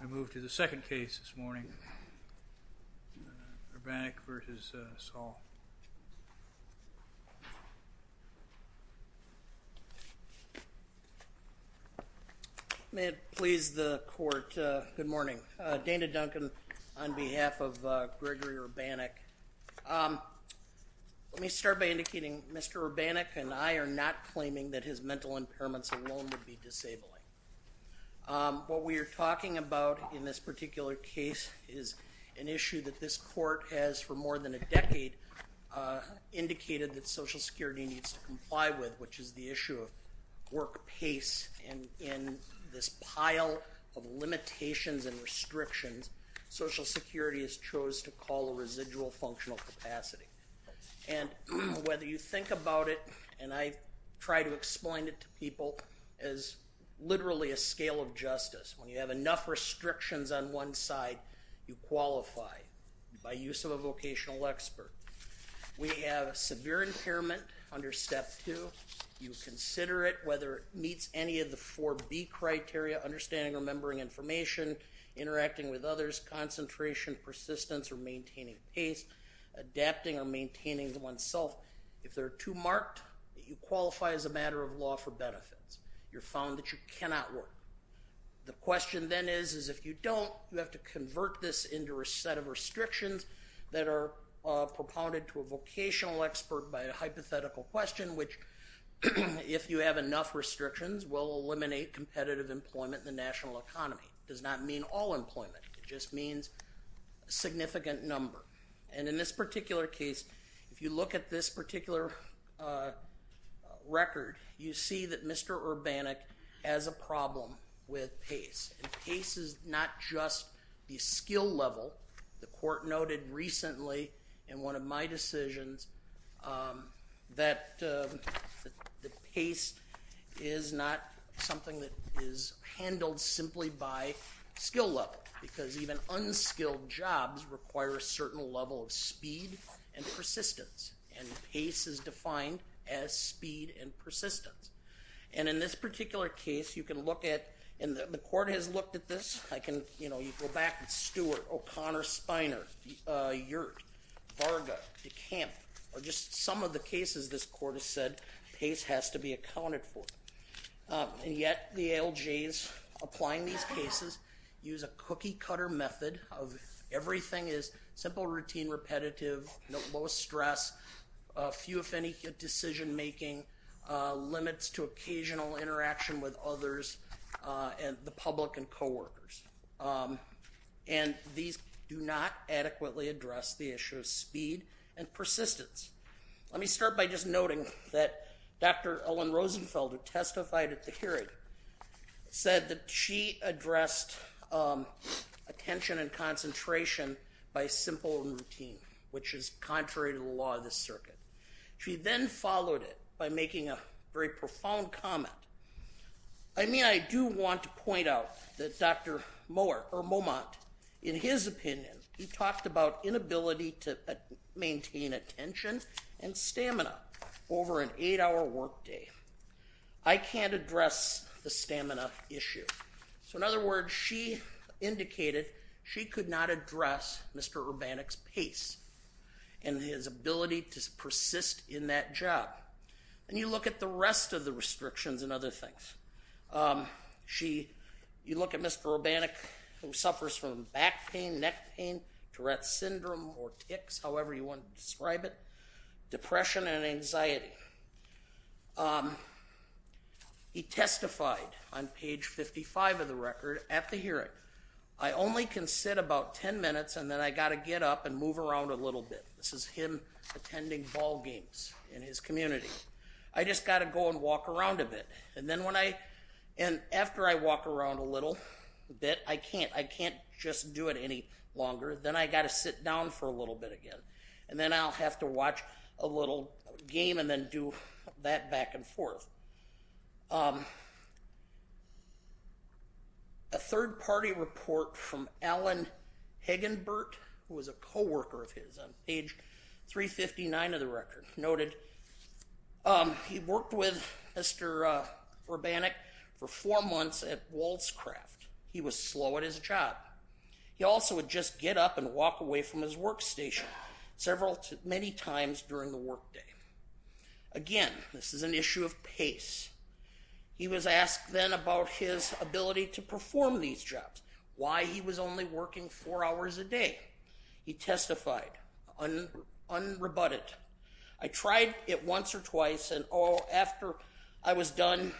I move to the second case this morning Urbanek v. Saul. May it please the court good morning Dana Duncan on behalf of Gregory Urbanek. Let me start by indicating Mr. Urbanek and I are not claiming that his mental impairments alone would be disabling. What we are talking about in this particular case is an issue that this court has for more than a decade indicated that Social Security needs to comply with which is the issue of work pace and in this pile of limitations and restrictions Social Security has chose to call a residual functional capacity and whether you think about it and I try to explain it to people as literally a scale of justice when you have enough restrictions on one side you qualify by use of a vocational expert. We have a severe impairment under step two you consider it whether it meets any of the four B criteria understanding remembering information interacting with others concentration persistence or maintaining pace adapting or maintaining oneself if they're too marked you qualify as a matter of law for benefits you're found that you cannot work. The question then is is if you don't you have to convert this into a set of restrictions that are propounded to a vocational expert by a hypothetical question which if you have enough restrictions will eliminate competitive employment in the national economy does not mean all employment it just means a significant number and in this particular case if you look at this particular record you see that Mr. Urbanik has a problem with pace. Pace is not just the skill level the court noted recently in one of my decisions that the pace is not something that is handled simply by skill level because even unskilled jobs require a certain level of speed and persistence and pace is defined as speed and persistence and in this particular case you can look at and the court has looked at this I can you know you go back and Stuart O'Connor Spiner, Yurt, Varga, DeCamp or just some of the cases this court has said pace has to be accounted for and yet the ALJ's applying these cases use a cookie-cutter method of everything is simple routine repetitive no stress a few if any decision-making limits to occasional interaction with others and the public and co-workers and these do not adequately address the issue of speed and persistence. Let me start by noting that Dr. Ellen Rosenfeld who testified at the hearing said that she addressed attention and concentration by simple routine which is contrary to the law of the circuit. She then followed it by making a very profound comment. I mean I do want to point out that Dr. Mohr or Momont in his opinion he talked about inability to maintain attention and stamina over an eight-hour workday. I can't address the stamina issue. So in other words she indicated she could not address Mr. Urbanik's pace and his ability to persist in that job and you look at the rest of the restrictions and other things. She you look at Mr. Urbanik who suffers from back pain, neck pain, Tourette's syndrome or tics however you want to describe it, depression and anxiety. He testified on page 55 of the record at the hearing I only can sit about 10 minutes and then I got to get up and move around a little bit. This is him attending ball games in his community. I just got to go and walk around a bit and then when I and after I walk around a little bit I can't I can't just do it any longer then I got to sit down for a little bit again and then I'll have to watch a little game and then do that back and forth. A third-party report from Alan Hagenbert who was a co-worker of his on page 359 of the record noted he worked with Mr. Urbanik for four months at Wolvescraft. He was slow at his job. He also would just get up and walk away from his workstation several to many times during the workday. Again this is an issue of pace. He was asked then about his ability to perform these jobs. Why he was only working four hours a day. He testified unrebutted. I tried it once or twice and all after I was done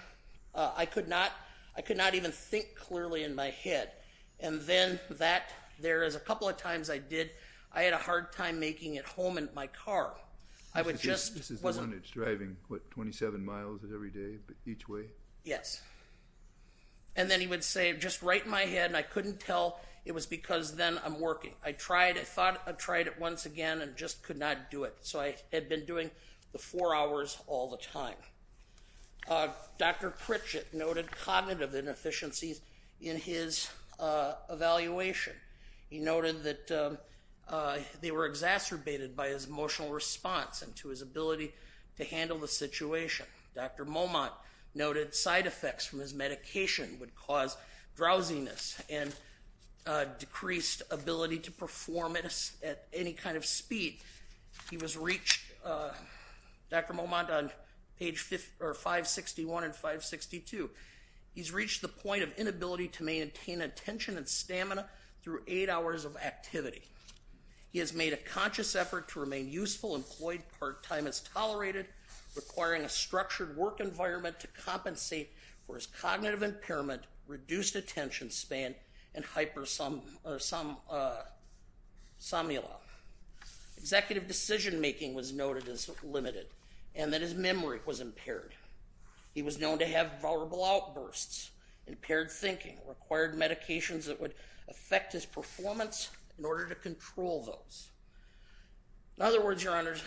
I could not I could not even think clearly in my head and then that there is a couple of times I did I had a hard time making it home in my car. This is the one that's driving what 27 miles every day but each way? Yes and then he would say just right in my head and I couldn't tell it was because then I'm working. I tried I thought I again and just could not do it so I had been doing the four hours all the time. Dr. Pritchett noted cognitive inefficiencies in his evaluation. He noted that they were exacerbated by his emotional response and to his ability to handle the situation. Dr. Momot noted side effects from his medication would cause drowsiness and decreased ability to perform it at any kind of speed. He was reached Dr. Momot on page 561 and 562. He's reached the point of inability to maintain attention and stamina through eight hours of activity. He has made a conscious effort to remain useful employed part-time is tolerated requiring a structured work environment to compensate for his cognitive impairment reduced attention span and hypersomnia. Executive decision-making was noted as limited and that his memory was impaired. He was known to have vulnerable outbursts, impaired thinking, required medications that would affect his performance in order to control those. In other words your honors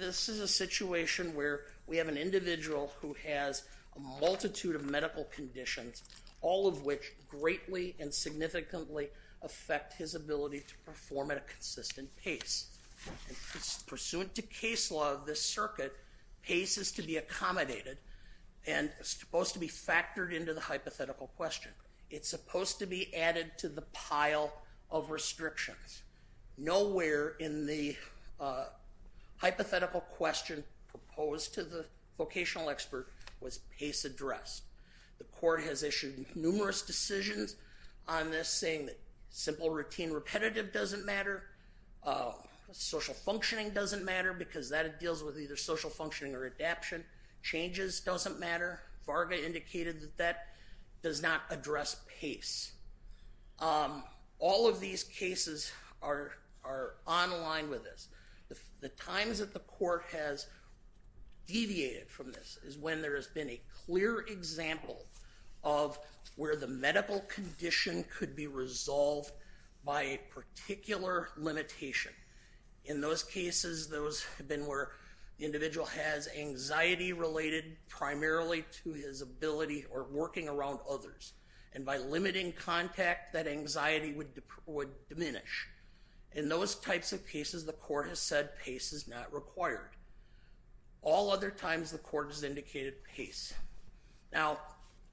this is a situation where we have an individual who has a multitude of medical conditions all of which greatly and significantly affect his ability to perform at a consistent pace. Pursuant to case law of this circuit pace is to be accommodated and supposed to be factored into the hypothetical question. It's supposed to be added to the pile of restrictions. Nowhere in the hypothetical question proposed to the vocational expert was pace addressed. The court has issued numerous decisions on this saying that simple routine repetitive doesn't matter. Social functioning doesn't matter because that it deals with either social functioning or adaption. Changes doesn't matter. Varga indicated that that does not address pace. All of these cases are on line with this. The times that the court has deviated from this is when there has been a clear example of where the medical condition could be resolved by a particular limitation. In those cases those have been where the individual has anxiety related primarily to his ability or working around others and by limiting contact that anxiety would diminish. In those types of cases the court has said pace is not required. All other times the court has indicated pace. Now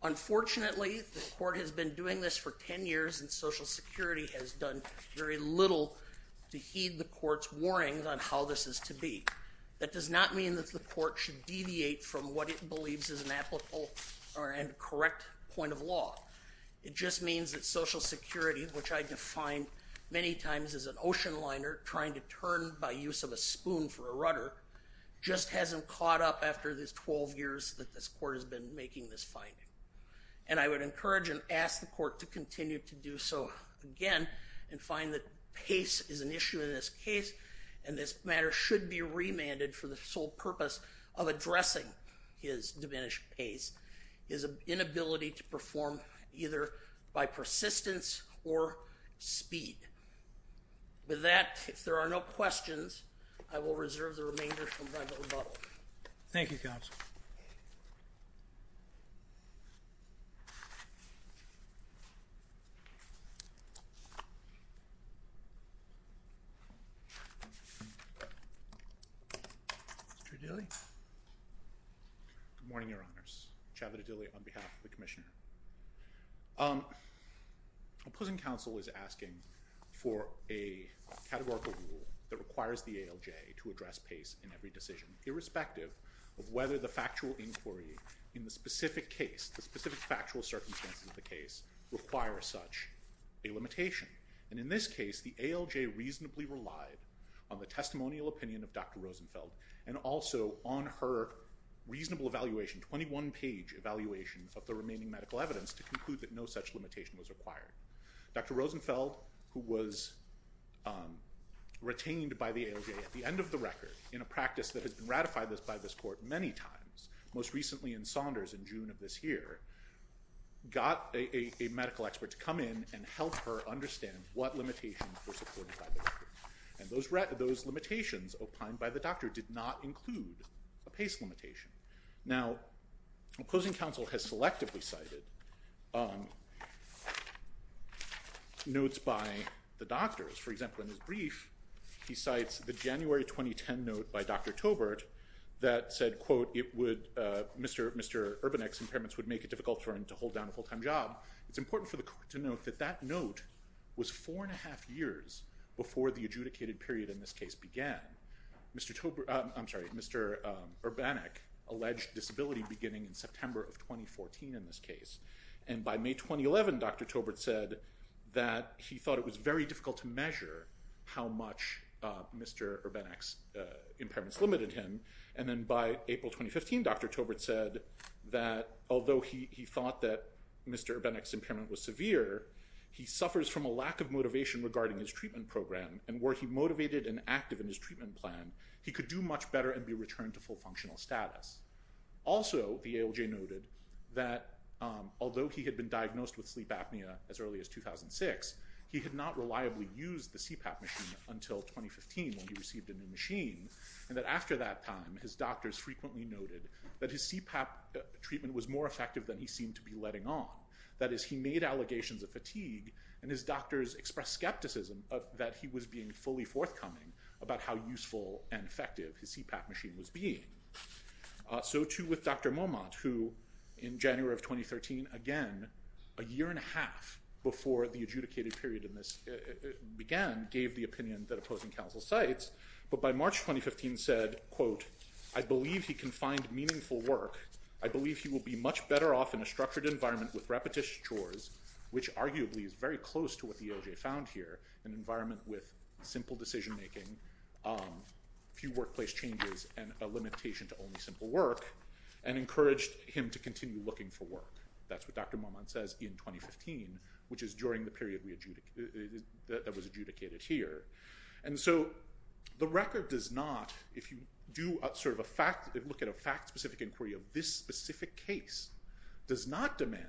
unfortunately the court has been doing this for 10 years and Social Security has done very little to heed the court's warnings on how this is to be. That does not mean that the court should deviate from what it believes is correct point of law. It just means that Social Security which I defined many times as an ocean liner trying to turn by use of a spoon for a rudder just hasn't caught up after this 12 years that this court has been making this finding. And I would encourage and ask the court to continue to do so again and find that pace is an issue in this case and this matter should be remanded for the sole purpose of addressing his diminished pace is an inability to perform either by persistence or speed. With that if there are no questions I will reserve the remainder from my rebuttal. Thank you counsel. Good morning your honors. Chavit Adili on behalf of the Commissioner. Opposing counsel is asking for a categorical rule that requires the ALJ to address pace in every decision irrespective of whether the factual inquiry in the specific case the specific factual circumstances of the case require such a limitation. And in this case the ALJ reasonably relied on the testimonial opinion of Dr. Rosenfeld and also on her reasonable evaluation 21 page evaluation of the remaining medical evidence to conclude that no such limitation was required. Dr. Rosenfeld who was retained by the ALJ at the end of the record in a practice that has been ratified this by this court many times most recently in Saunders in June of this year got a medical expert to come in and help her understand what limitations were limitations opined by the doctor did not include a pace limitation. Now opposing counsel has selectively cited notes by the doctors for example in his brief he cites the January 2010 note by Dr. Tobert that said quote it would Mr. Mr. Urbanek's impairments would make it difficult for him to hold down a full-time job. It's important for the court to note that that note was four and a half years before the adjudicated period in this case began. Mr. Tobert I'm sorry Mr. Urbanek alleged disability beginning in September of 2014 in this case and by May 2011 Dr. Tobert said that he thought it was very difficult to measure how much Mr. Urbanek's impairments limited him and then by April 2015 Dr. Tobert said that although he thought that Mr. Urbanek's motivation regarding his treatment program and where he motivated and active in his treatment plan he could do much better and be returned to full functional status. Also the ALJ noted that although he had been diagnosed with sleep apnea as early as 2006 he had not reliably used the CPAP machine until 2015 when he received a new machine and that after that time his doctors frequently noted that his CPAP treatment was more effective than he seemed to be expressed skepticism that he was being fully forthcoming about how useful and effective his CPAP machine was being. So too with Dr. Momot who in January of 2013 again a year and a half before the adjudicated period in this began gave the opinion that opposing counsel cites but by March 2015 said quote I believe he can find meaningful work I believe he will be much better off in a structured environment with repetition chores which arguably is very close to what the ALJ found here an environment with simple decision-making few workplace changes and a limitation to only simple work and encouraged him to continue looking for work that's what Dr. Momot says in 2015 which is during the period we adjudicate that was adjudicated here and so the record does not if you do a sort of a fact look at a fact-specific inquiry of this specific case does not demand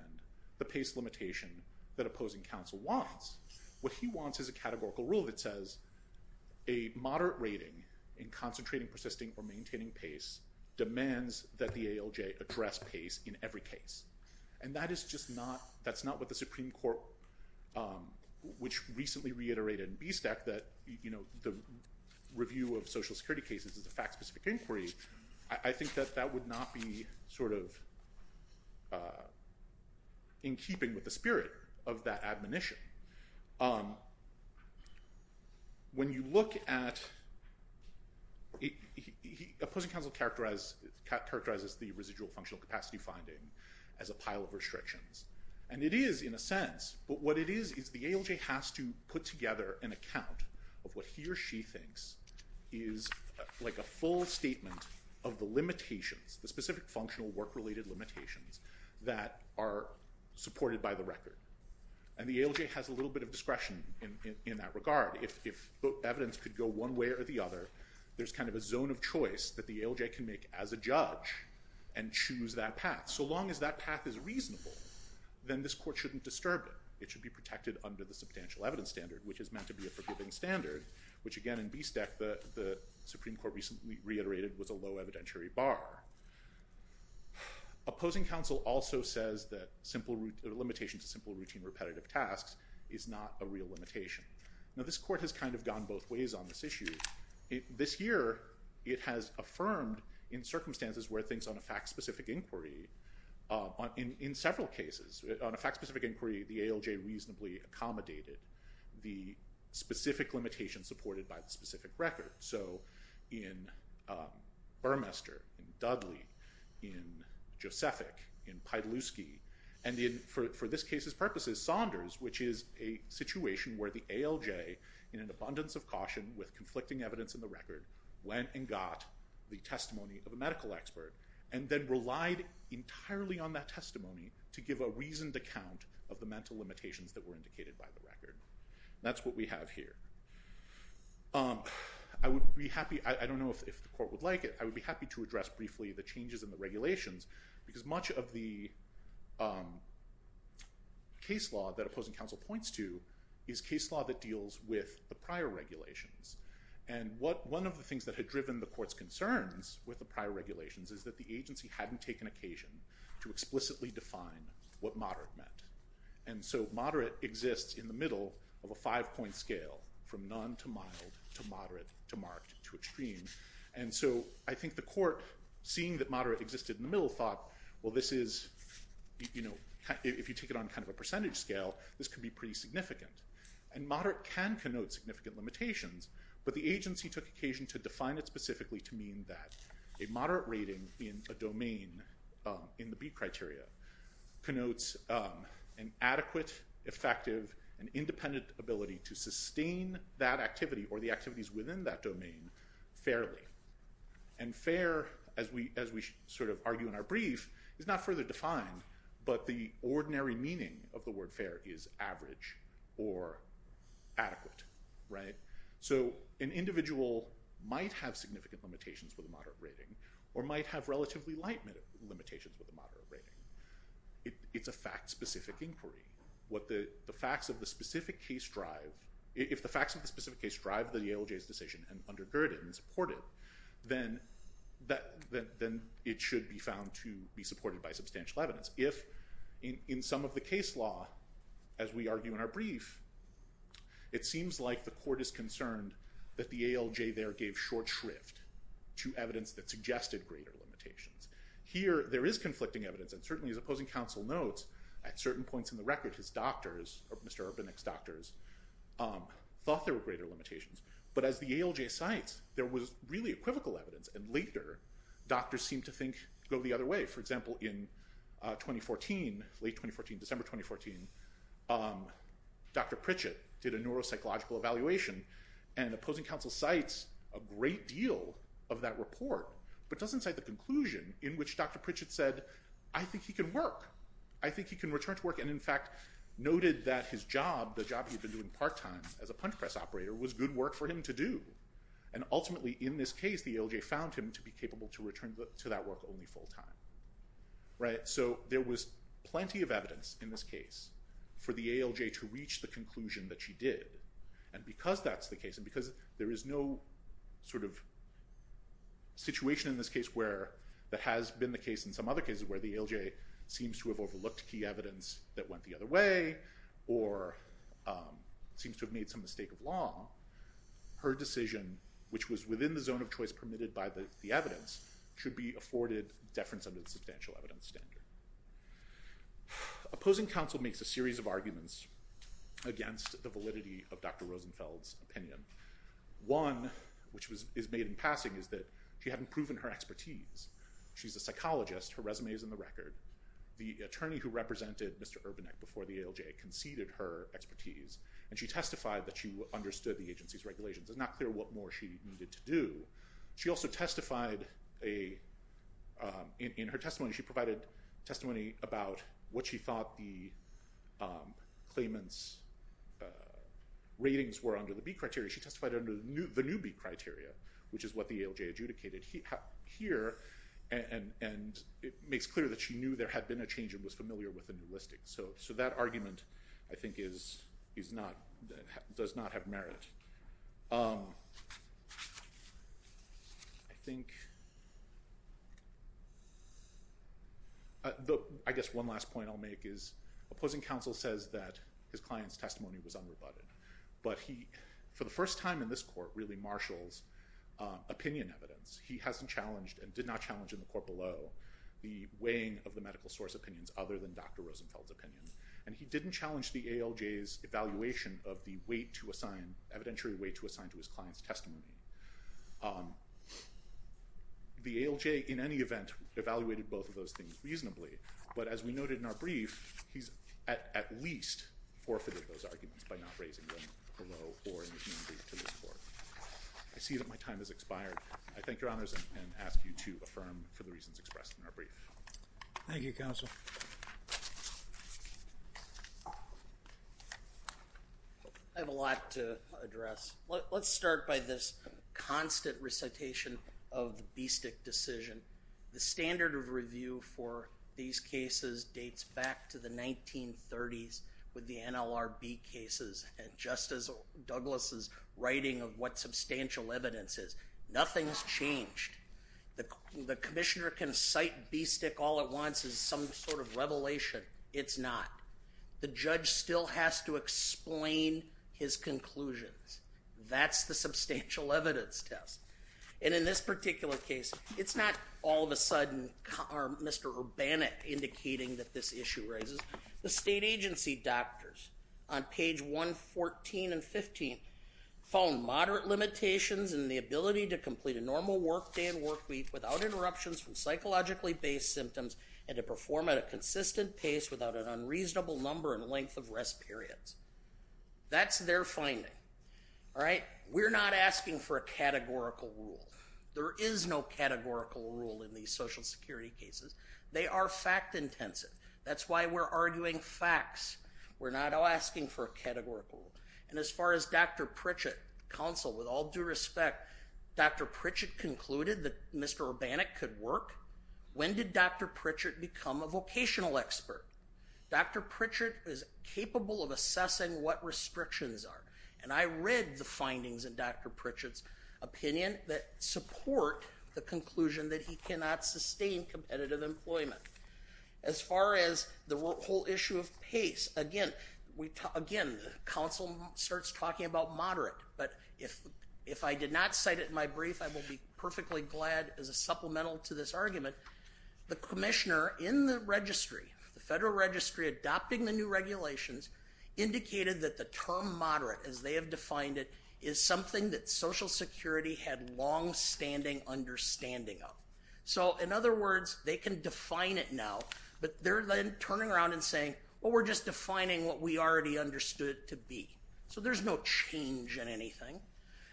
the limitation that opposing counsel wants what he wants is a categorical rule that says a moderate rating in concentrating persisting or maintaining pace demands that the ALJ address pace in every case and that is just not that's not what the Supreme Court which recently reiterated in B stack that you know the review of social security cases is a fact-specific inquiry I think that that would not be sort of in keeping with the spirit of that admonition on when you look at characterizes the residual capacity finding as a pile of restrictions and it is in a sense but what it is is the ALJ has to put together an account of what he or she thinks is like a full statement of the limitations the specific functional work-related limitations that are supported by the record and the ALJ has a little bit of discretion in that regard if evidence could go one way or the other there's kind of a zone of choice that the ALJ can make as a judge and choose that path so long as that path is reasonable then this court shouldn't disturb it it should be protected under the substantial evidence standard which is meant to be a forgiving standard which again in B stack the the Supreme Court recently reiterated was a low opposing counsel also says that simple root limitation to simple routine repetitive tasks is not a real limitation now this court has kind of gone both ways on this issue this year it has affirmed in circumstances where things on a fact-specific inquiry in several cases on a fact-specific inquiry the ALJ reasonably accommodated the specific limitation supported by the in Josephic in Piedelewski and in for this case's purposes Saunders which is a situation where the ALJ in an abundance of caution with conflicting evidence in the record went and got the testimony of a medical expert and then relied entirely on that testimony to give a reasoned account of the mental limitations that were indicated by the record that's what we have here I would be happy I don't know if the court would like it I would be happy to address briefly the changes in the regulations because much of the case law that opposing counsel points to is case law that deals with the prior regulations and what one of the things that had driven the courts concerns with the prior regulations is that the agency hadn't taken occasion to explicitly define what moderate meant and so moderate exists in the middle of a five-point scale from none to mild to moderate to marked to extreme and so I think the court seeing that moderate existed in the middle thought well this is you know if you take it on kind of a percentage scale this could be pretty significant and moderate can connote significant limitations but the agency took occasion to define it specifically to mean that a moderate rating in a domain in the B criteria connotes an adequate effective and independent ability to sustain that activity or the activities within that domain fairly and fair as we as we sort of argue in our brief is not further defined but the ordinary meaning of the word fair is average or adequate right so an individual might have significant limitations with a moderate rating or might have relatively light limitations with a moderate rating it's a fact specific inquiry what the the facts of the specific case drive if the facts of the specific case drive the ALJ's decision and undergird it and support it then that then it should be found to be supported by substantial evidence if in some of the case law as we argue in our brief it seems like the court is concerned that the ALJ there gave short shrift to evidence that suggested greater limitations here there is conflicting evidence and certainly as opposing counsel notes at certain points in the record his doctors or Mr. Urbanek's doctors thought there were greater limitations but as the ALJ cites there was really equivocal evidence and later doctors seem to think go the other way for example in 2014 late 2014 December 2014 Dr. Pritchett did a neuropsychological evaluation and opposing counsel cites a great deal of that report but doesn't cite the conclusion in which Dr. Pritchett said I think he can work I think he can return to work and in fact noted that his job the job he's been doing part-time as a punch press operator was good work for him to do and ultimately in this case the ALJ found him to be capable to return to that work only full-time right so there was plenty of evidence in this case for the ALJ to reach the conclusion that she did and because that's the case and because there is no sort of situation in this case where that has been the case in some other cases where the ALJ seems to have overlooked key evidence that went the other way or seems to have made some mistake of law her decision which was within the zone of choice permitted by the evidence should be afforded deference under the substantial evidence standard opposing counsel makes a series of arguments against the validity of dr. Rosenfeld's opinion one which was is made in passing is that she hadn't proven her expertise she's a psychologist her resume is in the record the attorney who represented mr. Urbanek before the ALJ conceded her expertise and she testified that she understood the agency's regulations it's not clear what more she needed to do she also testified a in her testimony she provided testimony about what she thought the claimants ratings were under the B criteria she testified under the newbie criteria which is what the ALJ adjudicated he here and and it makes clear that she knew there had been a change it was familiar with the new listings so so that argument I think is he's not that does not have merit I think though I guess one last point I'll make is opposing counsel says that his clients testimony was unrebutted but he for the first time in this court really marshals opinion evidence he hasn't challenged and did not challenge in the court below the weighing of the medical source opinions other than dr. Rosenfeld opinion and he didn't challenge the ALJ is evaluation of the weight to assign evidentiary way to assign to his clients testimony the ALJ in any event evaluated both of those things reasonably but as we noted in our brief he's at least forfeited those arguments by not raising them I see that my time has expired I thank your honors and ask you to affirm for the reasons expressed in our brief Thank You counsel I have a lot to address let's start by this constant recitation of the B stick decision the standard of review for these cases dates back to the 1930s with the NLRB cases and just as Douglas's writing of what substantial evidence is nothing's changed the Commissioner can cite B stick all at once is some sort of revelation it's not the judge still has to explain his conclusions that's the substantial evidence test and in this particular case it's not all of a sudden Mr. Urbana indicating that this issue raises the state agency doctors on page 114 and 15 found moderate limitations and the ability to complete a normal workday and workweek without interruptions from psychologically based symptoms and to perform at a consistent pace without an unreasonable number and length of rest periods that's their finding all right we're not asking for a categorical rule there is no categorical rule in these social security cases they are fact-intensive that's why we're arguing facts we're not all asking for a categorical and as far as dr. Pritchett counsel with all due respect dr. Pritchett concluded that mr. Urbana could work when did dr. Pritchett become a vocational expert dr. Pritchett is capable of assessing what restrictions are and I read the findings in dr. Pritchett's opinion that support the conclusion that he cannot sustain competitive employment as far as the whole issue of pace again we talk again counsel starts talking about moderate but if if I did not cite it in my brief I will be perfectly glad as a supplemental to this argument the Commissioner in the registry the Federal Registry adopting the new regulations indicated that the term moderate as they have defined it is something that Social Security had long-standing understanding of so in other words they can define it now but they're then turning around and saying well we're just defining what we already understood to be so there's no change in anything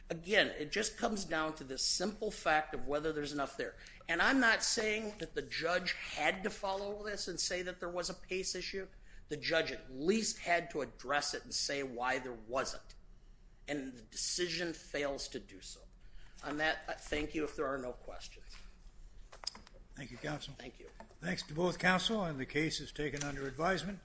again it just comes down to this simple fact of whether there's enough there and I'm not saying that the judge had to follow this and say that there was a issue the judge at least had to address it and say why there wasn't and the decision fails to do so on that thank you if there are no questions thank you counsel thank you thanks to both counsel and the case is taken under advisement